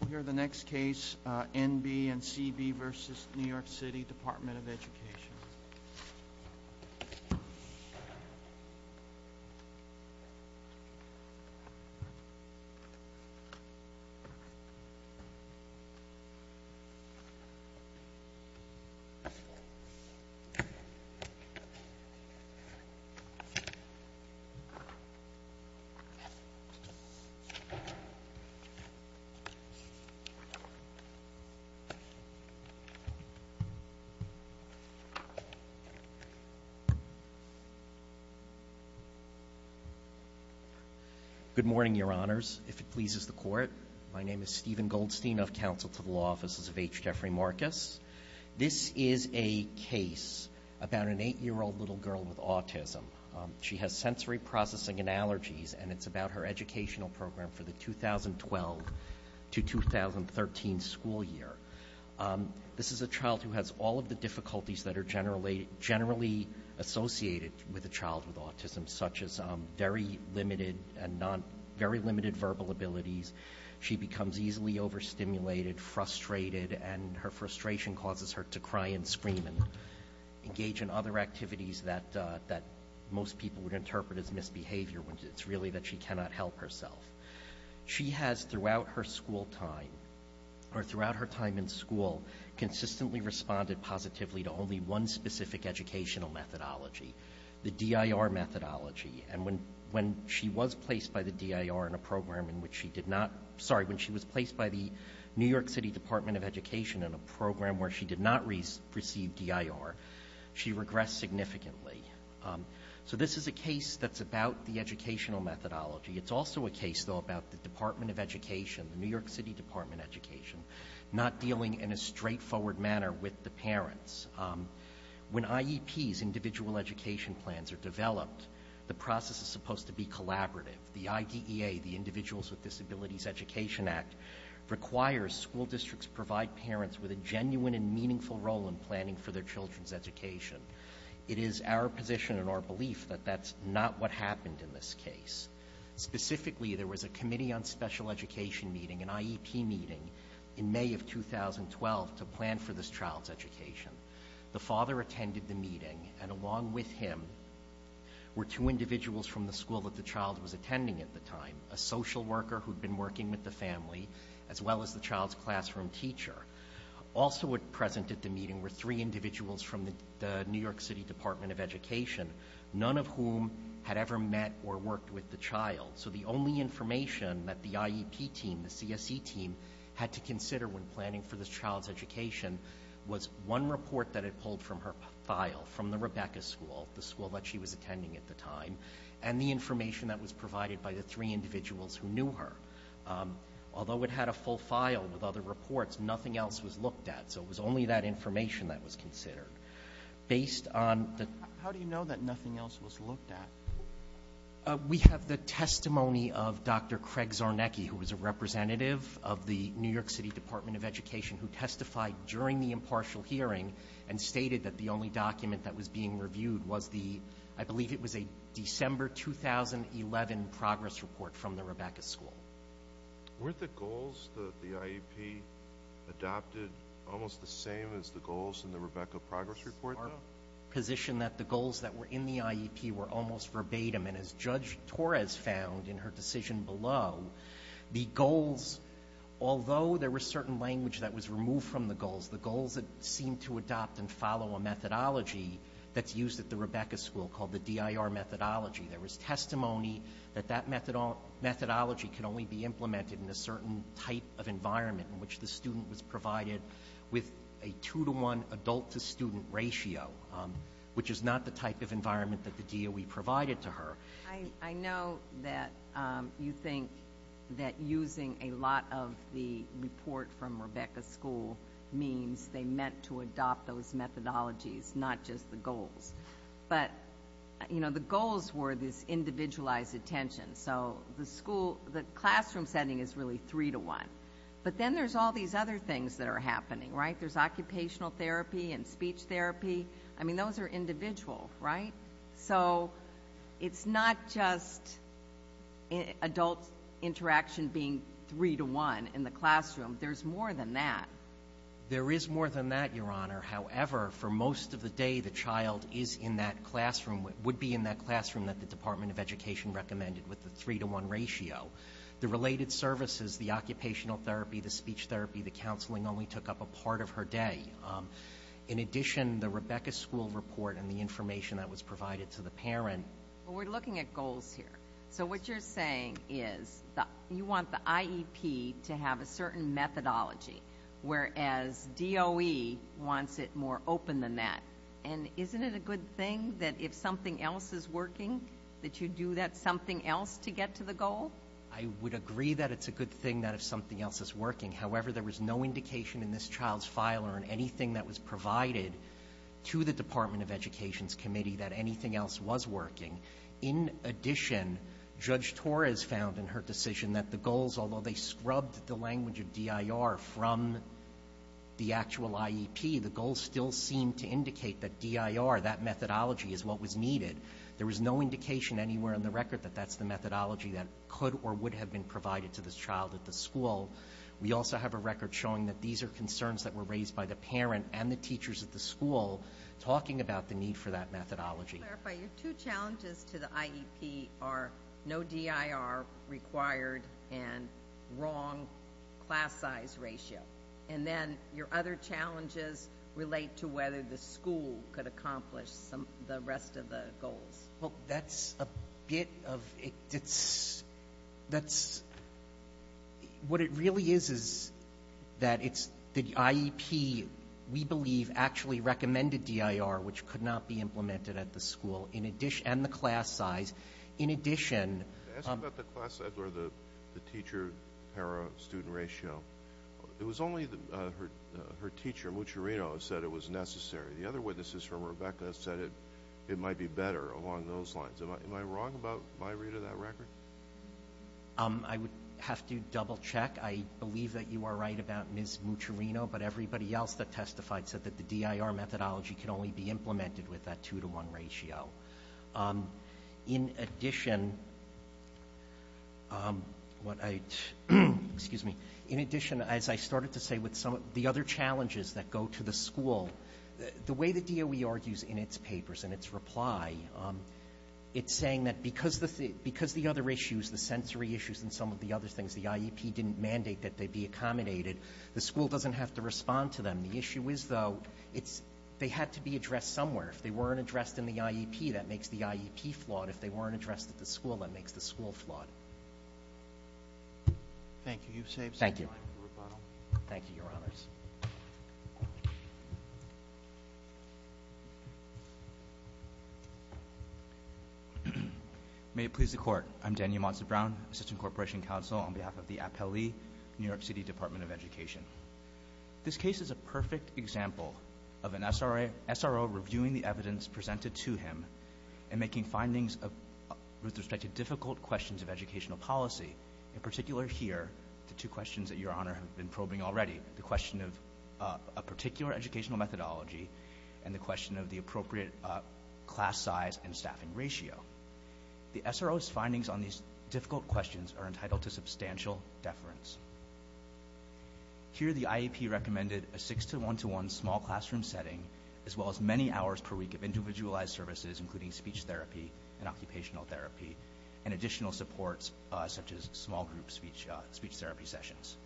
We'll hear the next case, NB and CB v. New York City Department of Education. Good morning, Your Honors. If it pleases the Court, my name is Stephen Goldstein of Counsel to the Law Offices of H. Jeffrey Marcus. This is a case about an 8-year-old little girl with autism. She has sensory processing and allergies, and it's about her educational program for the 2012-2013 school year. This is a child who has all of the difficulties that are generally associated with a child with autism, such as very limited verbal abilities. She becomes easily overstimulated, frustrated, and her frustration causes her to cry and most people would interpret as misbehavior, when it's really that she cannot help herself. She has, throughout her school time, or throughout her time in school, consistently responded positively to only one specific educational methodology, the DIR methodology, and when she was placed by the DIR in a program in which she did not, sorry, when she was placed by the New York City Department of Education in a program where she did not receive DIR, she regressed significantly. So this is a case that's about the educational methodology. It's also a case, though, about the Department of Education, the New York City Department of Education, not dealing in a straightforward manner with the parents. When IEPs, individual education plans, are developed, the process is supposed to be collaborative. The IDEA, the Individuals with Disabilities Education Act, requires school districts provide parents with a genuine and meaningful role in planning for their children's education. It is our position and our belief that that's not what happened in this case. Specifically, there was a committee on special education meeting, an IEP meeting, in May of 2012 to plan for this child's education. The father attended the meeting, and along with him were two individuals from the school that the child was attending at the time, a social worker who had been working with the family, as well as the child's classroom teacher. Also present at the meeting were three individuals from the New York City Department of Education, none of whom had ever met or worked with the child. So the only information that the IEP team, the CSE team, had to consider when planning for the child's education was one report that it pulled from her file from the Rebecca School, the school that she was attending at the time, and the information that was provided by the three individuals who knew her. Although it had a full file with other reports, nothing else was looked at, so it was only that information that was considered. Based on the... How do you know that nothing else was looked at? We have the testimony of Dr. Craig Czarnecki, who was a representative of the New York City Department of Education, who testified during the impartial hearing and stated that the only document that was being reviewed was the, I believe it was a December 2011 progress report from the Rebecca School. Weren't the goals that the IEP adopted almost the same as the goals in the Rebecca progress report though? Our position that the goals that were in the IEP were almost verbatim, and as Judge Torres found in her decision below, the goals, although there was certain language that was removed from the goals, the goals that seemed to adopt and follow a methodology that's used at the methodology can only be implemented in a certain type of environment in which the student was provided with a two-to-one adult-to-student ratio, which is not the type of environment that the DOE provided to her. I know that you think that using a lot of the report from Rebecca School means they meant to adopt those methodologies, not just the goals, but the goals were this individualized attention. So the classroom setting is really three-to-one. But then there's all these other things that are happening, right? There's occupational therapy and speech therapy. I mean, those are individual, right? So it's not just adult interaction being three-to-one in the classroom. There's more than that. There is more than that, Your Honor. However, for most of the day, the child is in that classroom, would be in that classroom that the Department of Education recommended with the three-to-one ratio. The related services, the occupational therapy, the speech therapy, the counseling only took up a part of her day. In addition, the Rebecca School report and the information that was provided to the parent Well, we're looking at goals here. So what you're saying is you want the IEP to have a certain methodology, whereas DOE wants it more open than that. And isn't it a good thing that if something else is working, that you do that something else to get to the goal? I would agree that it's a good thing that if something else is working. However, there was no indication in this child's file or in anything that was provided to the Department of Education's committee that anything else was working. In addition, Judge Torres found in her decision that the goals, although they scrubbed the that methodology is what was needed. There was no indication anywhere in the record that that's the methodology that could or would have been provided to this child at the school. We also have a record showing that these are concerns that were raised by the parent and the teachers at the school talking about the need for that methodology. To clarify, your two challenges to the IEP are no DIR required and wrong class size ratio. And then your other challenges relate to whether the school could accomplish the rest of the goals. Well, that's a bit of, it's, that's, what it really is is that it's, the IEP we believe actually recommended DIR, which could not be implemented at the school, in addition, and the class size. In addition- I asked about the class size or the teacher para-student ratio. It was only her teacher, Mucerino, said it was necessary. The other witnesses from Rebecca said it might be better along those lines. Am I wrong about my read of that record? I would have to double check. I believe that you are right about Ms. Mucerino, but everybody else that testified said that the DIR methodology can only be implemented with that two to one ratio. In addition, what I, excuse me, in addition, as I started to say with some of the other challenges that go to the school, the way the DOE argues in its papers and its reply, it's saying that because the other issues, the sensory issues and some of the other things, the IEP didn't mandate that they be accommodated, the school doesn't have to respond to them. The issue is, though, it's, they had to be addressed somewhere. If they weren't addressed in the IEP, that makes the IEP flawed. If they weren't addressed at the school, that makes the school flawed. Thank you, you've saved some time for rebuttal. Thank you, your honors. May it please the court. I'm Daniel Monson Brown, Assistant Corporation Counsel on behalf of the Apelli New York City Department of Education. This case is a perfect example of an SRO reviewing the evidence presented to him and making findings with respect to difficult questions of educational policy, in particular here, the two questions that your honor have been probing already, the question of a particular educational methodology and the question of the appropriate class size and staffing ratio. The SRO's findings on these difficult questions are entitled to substantial deference. Here, the IEP recommended a 6 to 1 to 1 small classroom setting, as well as many hours per week of individualized services, including speech therapy and occupational therapy, and additional supports such as small group speech, speech therapy sessions.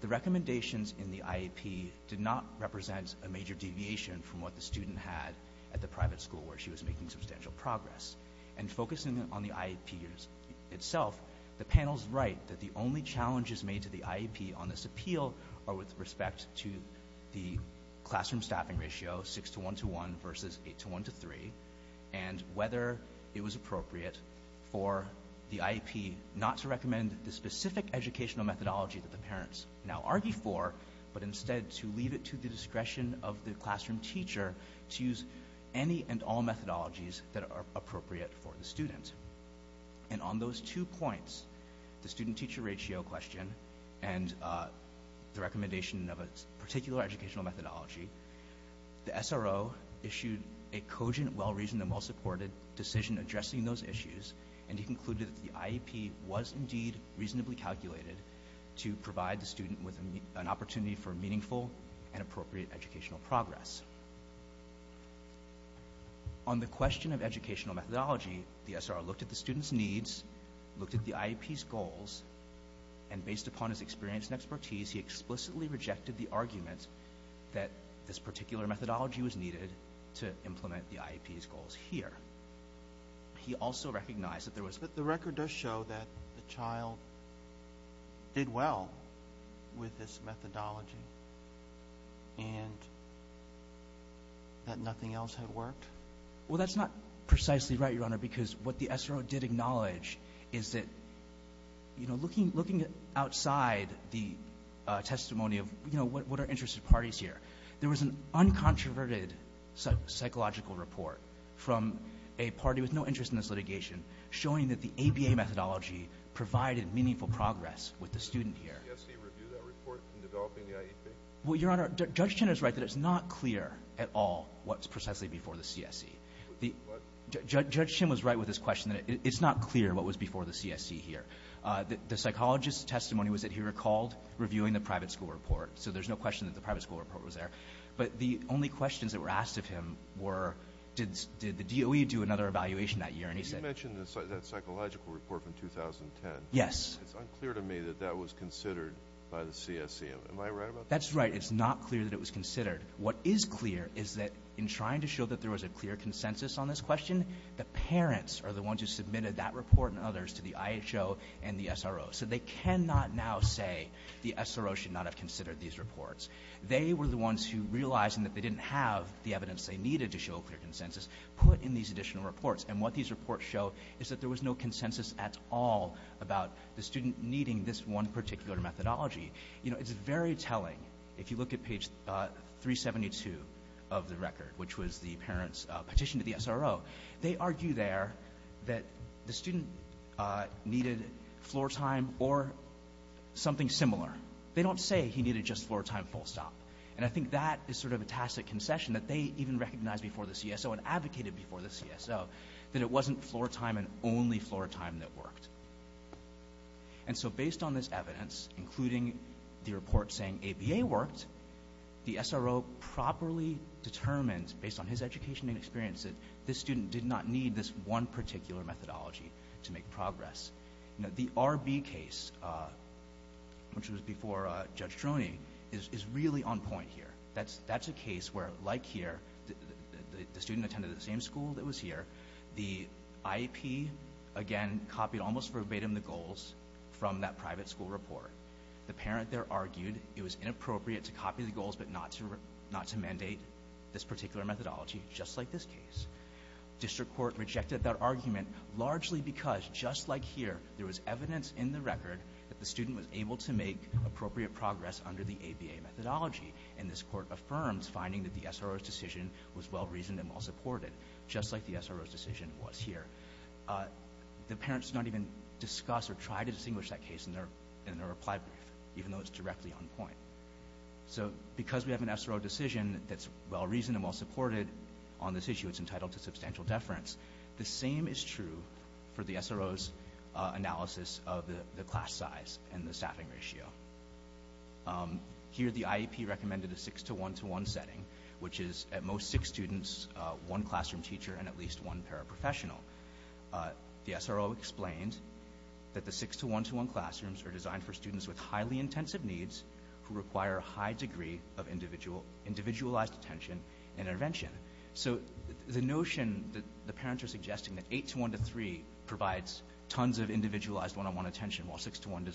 The recommendations in the IEP did not represent a major deviation from what the student had at the private school where she was making substantial progress. And focusing on the IEP itself, the panel's right that the only challenges made to the IEP on this appeal are with respect to the classroom staffing ratio, 6 to 1 to 1 versus 8 to 1 to 3, and whether it was appropriate for the IEP not to recommend the specific educational methodology that the parents now argue for, but instead to leave it to the student. And on those two points, the student teacher ratio question and the recommendation of a particular educational methodology, the SRO issued a cogent, well-reasoned, and well-supported decision addressing those issues, and he concluded that the IEP was indeed reasonably calculated to provide the student with an opportunity for meaningful and appropriate educational progress. On the question of educational methodology, the SRO looked at the student's needs, looked at the IEP's goals, and based upon his experience and expertise, he explicitly rejected the argument that this particular methodology was needed to implement the IEP's goals here. He also recognized that there was... The record does show that the child did well with this methodology and that nothing else had worked? Well, that's not precisely right, Your Honor, because what the SRO did acknowledge is that, you know, looking outside the testimony of, you know, what are interested parties here, there was an uncontroverted psychological report from a party with no interest in this ABA methodology provided meaningful progress with the student here. Did the CSE review that report in developing the IEP? Well, Your Honor, Judge Chin is right that it's not clear at all what's precisely before the CSE. What? Judge Chin was right with his question that it's not clear what was before the CSE here. The psychologist's testimony was that he recalled reviewing the private school report, so there's no question that the private school report was there, but the only questions that were asked of him were, did the DOE do another evaluation that year? You mentioned that psychological report from 2010. Yes. It's unclear to me that that was considered by the CSE. Am I right about that? That's right. It's not clear that it was considered. What is clear is that in trying to show that there was a clear consensus on this question, the parents are the ones who submitted that report and others to the IHO and the SRO, so they cannot now say the SRO should not have considered these reports. They were the ones who, realizing that they didn't have the evidence they needed to show is that there was no consensus at all about the student needing this one particular methodology. You know, it's very telling. If you look at page 372 of the record, which was the parent's petition to the SRO, they argue there that the student needed floor time or something similar. They don't say he needed just floor time full stop, and I think that is sort of a tacit concession that they even recognized before the CSO and advocated before the CSO that it wasn't floor time and only floor time that worked. And so based on this evidence, including the report saying ABA worked, the SRO properly determined, based on his education and experience, that this student did not need this one particular methodology to make progress. You know, the RB case, which was before Judge Droney, is really on point here. That's a case where, like here, the student attended the same school that was here. The IEP, again, copied almost verbatim the goals from that private school report. The parent there argued it was inappropriate to copy the goals, but not to mandate this particular methodology, just like this case. District Court rejected that argument largely because, just like here, there was evidence in the record that the student was able to make appropriate progress under the ABA methodology. And this court affirms finding that the SRO's decision was well-reasoned and well-supported, just like the SRO's decision was here. The parents did not even discuss or try to distinguish that case in their reply brief, even though it's directly on point. So because we have an SRO decision that's well-reasoned and well-supported on this issue, it's entitled to substantial deference. The same is true for the SRO's analysis of the class size and the staffing ratio. Here, the IEP recommended a 6-to-1-to-1 setting, which is at most six students, one classroom teacher, and at least one paraprofessional. The SRO explained that the 6-to-1-to-1 classrooms are designed for students with highly intensive needs who require a high degree of individualized attention and intervention. So the notion that the parents are suggesting that 8-to-1-to-3 provides tons of individualized one-on-one attention, while 6-to-1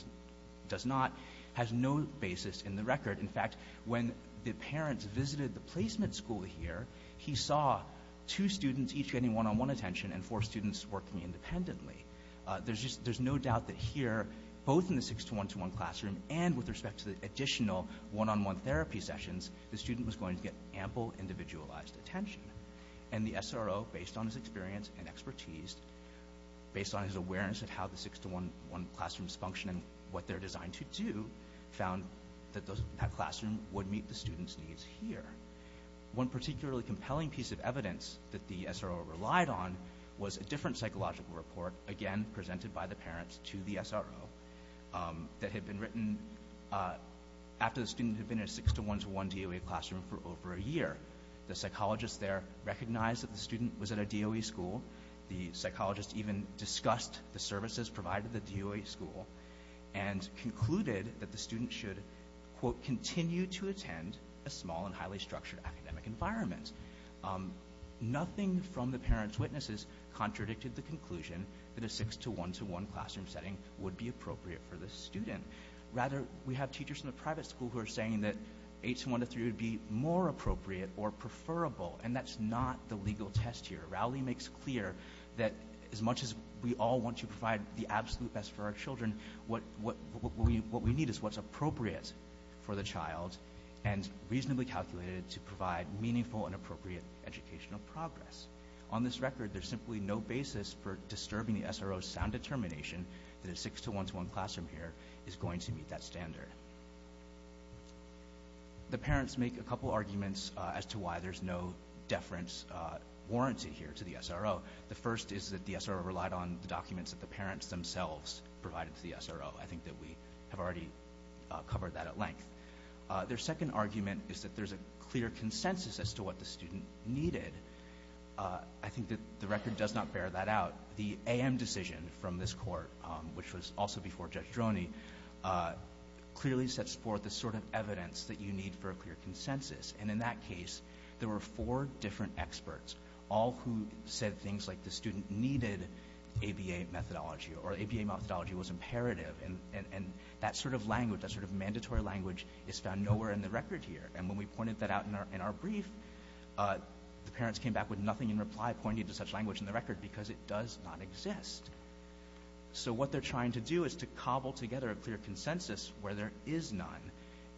does not, has no basis in the record. In fact, when the parents visited the placement school here, he saw two students each getting one-on-one attention and four students working independently. There's no doubt that here, both in the 6-to-1-to-1 classroom and with respect to the additional one-on-one therapy sessions, the student was going to get ample individualized attention. And the SRO, based on his experience and expertise, based on his awareness of how the 6-to-1-to-1 classrooms function and what they're designed to do, found that that classroom would meet the student's needs here. One particularly compelling piece of evidence that the SRO relied on was a different psychological report, again, presented by the parents to the SRO, that had been written after the student had been in a 6-to-1-to-1 DOE classroom for over a year. The psychologists there recognized that the student was at a DOE school, the psychologists even discussed the services provided at the DOE school, and concluded that the student should, quote, continue to attend a small and highly structured academic environment. Nothing from the parents' witnesses contradicted the conclusion that a 6-to-1-to-1 classroom setting would be appropriate for the student. Rather, we have teachers in the private school who are saying that 8-to-1-to-3 would be more appropriate or preferable, and that's not the legal test here. Rowley makes clear that as much as we all want to provide the absolute best for our children, what we need is what's appropriate for the child and reasonably calculated to provide meaningful and appropriate educational progress. On this record, there's simply no basis for disturbing the SRO's sound determination that a 6-to-1-to-1 classroom here is going to meet that standard. The parents make a couple arguments as to why there's no deference warranty here to the SRO. The first is that the SRO relied on the documents that the parents themselves provided to the SRO. I think that we have already covered that at length. Their second argument is that there's a clear consensus as to what the student needed. I think that the record does not bear that out. The AM decision from this court, which was also before Judge Droney, clearly sets forth the sort of evidence that you need for a clear consensus. And in that case, there were four different experts, all who said things like the student needed ABA methodology or ABA methodology was imperative. And that sort of language, that sort of mandatory language is found nowhere in the record here. And when we pointed that out in our brief, the parents came back with nothing in reply pointing to such language in the record because it does not exist. So what they're trying to do is to cobble together a clear consensus where there is none.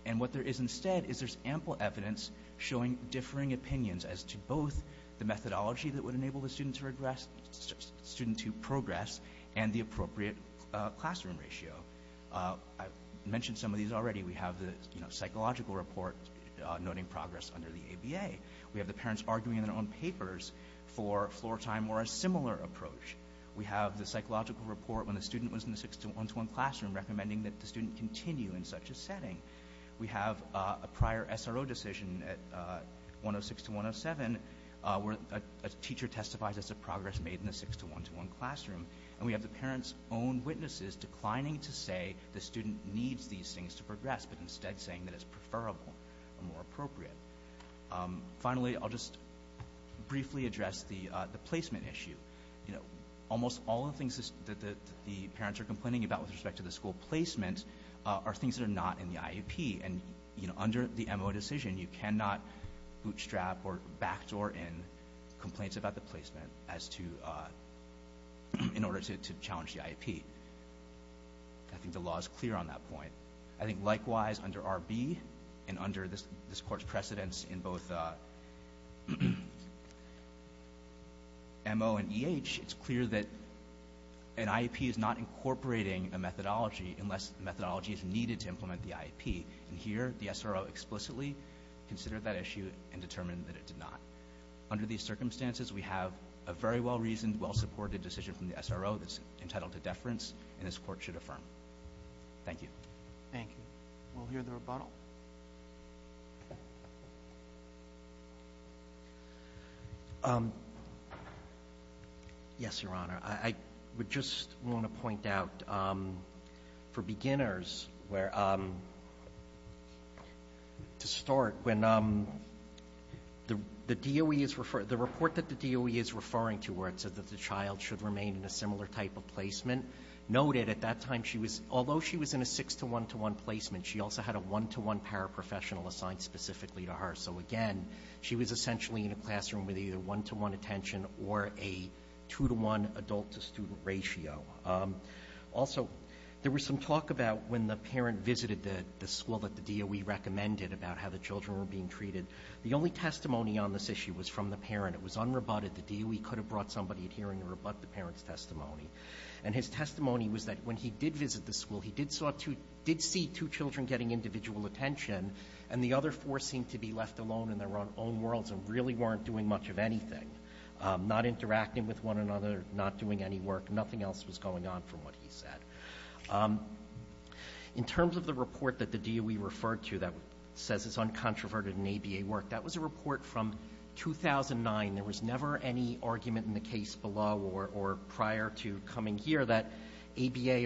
And what there is instead is there's ample evidence showing differing opinions as to both the methodology that would enable the student to progress and the appropriate classroom ratio. I mentioned some of these already. We have the psychological report noting progress under the ABA. We have the parents arguing in their own papers for floor time or a similar approach. We have the psychological report when the student was in the 6-1-1 classroom recommending that the student continue in such a setting. We have a prior SRO decision at 106-107 where a teacher testifies as to progress made in the 6-1-1 classroom. And we have the parents' own witnesses declining to say the student needs these things to progress, but instead saying that it's preferable or more appropriate. Finally, I'll just briefly address the placement issue. Almost all of the things that the parents are complaining about with respect to the school placement are things that are not in the IEP. And under the MO decision, you cannot bootstrap or backdoor in complaints about the placement in order to challenge the IEP. I think the law is clear on that point. I think likewise under RB and under this court's precedence in both MO and EH, it's clear that an IEP is not incorporating a methodology unless the methodology is needed to implement the IEP. And here, the SRO explicitly considered that issue and determined that it did not. Under these circumstances, we have a very well-reasoned, well-supported decision from the SRO that's entitled to deference, and this court should affirm. Thank you. Thank you. We'll hear the rebuttal. Yes, Your Honor. I would just want to point out for beginners where, to start, when the DOE is, the report that the DOE is referring to where it said that the child should remain in a similar type of placement noted at that time she was, although she was in a 6 to 1 to 1 placement, she also had a 1 to 1 paraprofessional assigned specifically to her. So again, she was essentially in a classroom with either 1 to 1 attention or a 2 to 1 adult to student ratio. Also, there was some talk about when the parent visited the school that the DOE recommended about how the children were being treated. The only testimony on this issue was from the parent. It was unrebutted. The DOE could have brought somebody here and rebut the parent's testimony. And his testimony was that when he did visit the school, he did see two children getting individual attention, and the other four seemed to be left alone in their own worlds and really weren't doing much of anything, not interacting with one another, not doing any work. Nothing else was going on from what he said. In terms of the report that the DOE referred to that says it's uncontroverted in ABA work, that was a report from 2009. There was never any argument in the case below or prior to coming here that ABA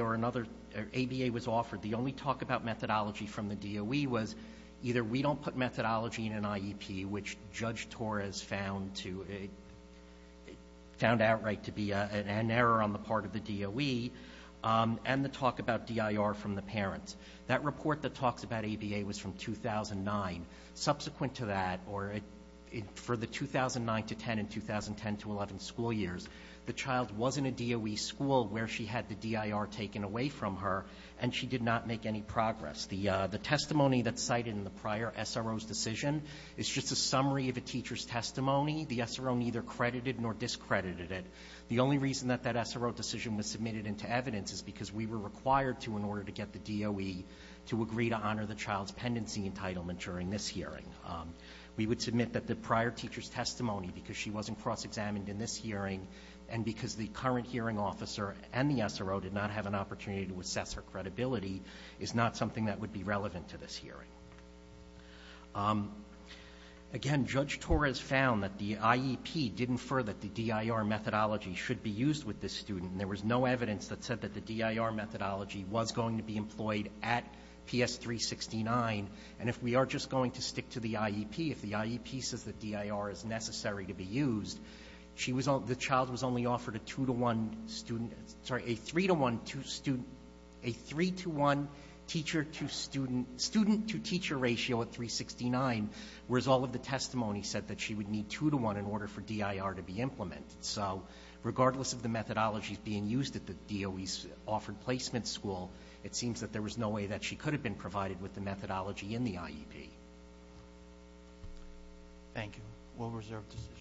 was offered. The only talk about methodology from the DOE was either we don't put methodology in an IEP, which Judge Torres found outright to be an error on the part of the DOE, and the talk about DIR from the parents. That report that talks about ABA was from 2009. Subsequent to that, for the 2009 to 10 and 2010 to 11 school years, the child was in a DOE school where she had the DIR taken away from her, and she did not make any progress. The testimony that's cited in the prior SRO's decision is just a summary of a teacher's testimony. The SRO neither credited nor discredited it. The only reason that that SRO decision was submitted into evidence is because we were required to, in order to get the DOE to agree to honor the child's hearing, we would submit that the prior teacher's testimony, because she wasn't cross-examined in this hearing and because the current hearing officer and the SRO did not have an opportunity to assess her credibility, is not something that would be relevant to this hearing. Again, Judge Torres found that the IEP did infer that the DIR methodology should be used with this student, and there was no evidence that said that the DIR methodology was going to be employed at PS 369, and if we are just going to stick to the IEP, if the IEP says that DIR is necessary to be used, the child was only offered a two-to-one student, sorry, a three-to-one teacher-to-student, student-to-teacher ratio at 369, whereas all of the testimony said that she would need two-to-one in order for DIR to be implemented. So regardless of the methodologies being used at the DOE's offered placement school, it seems that there was no way that she could have been employed at PS 369. Thank you. We'll reserve this issue.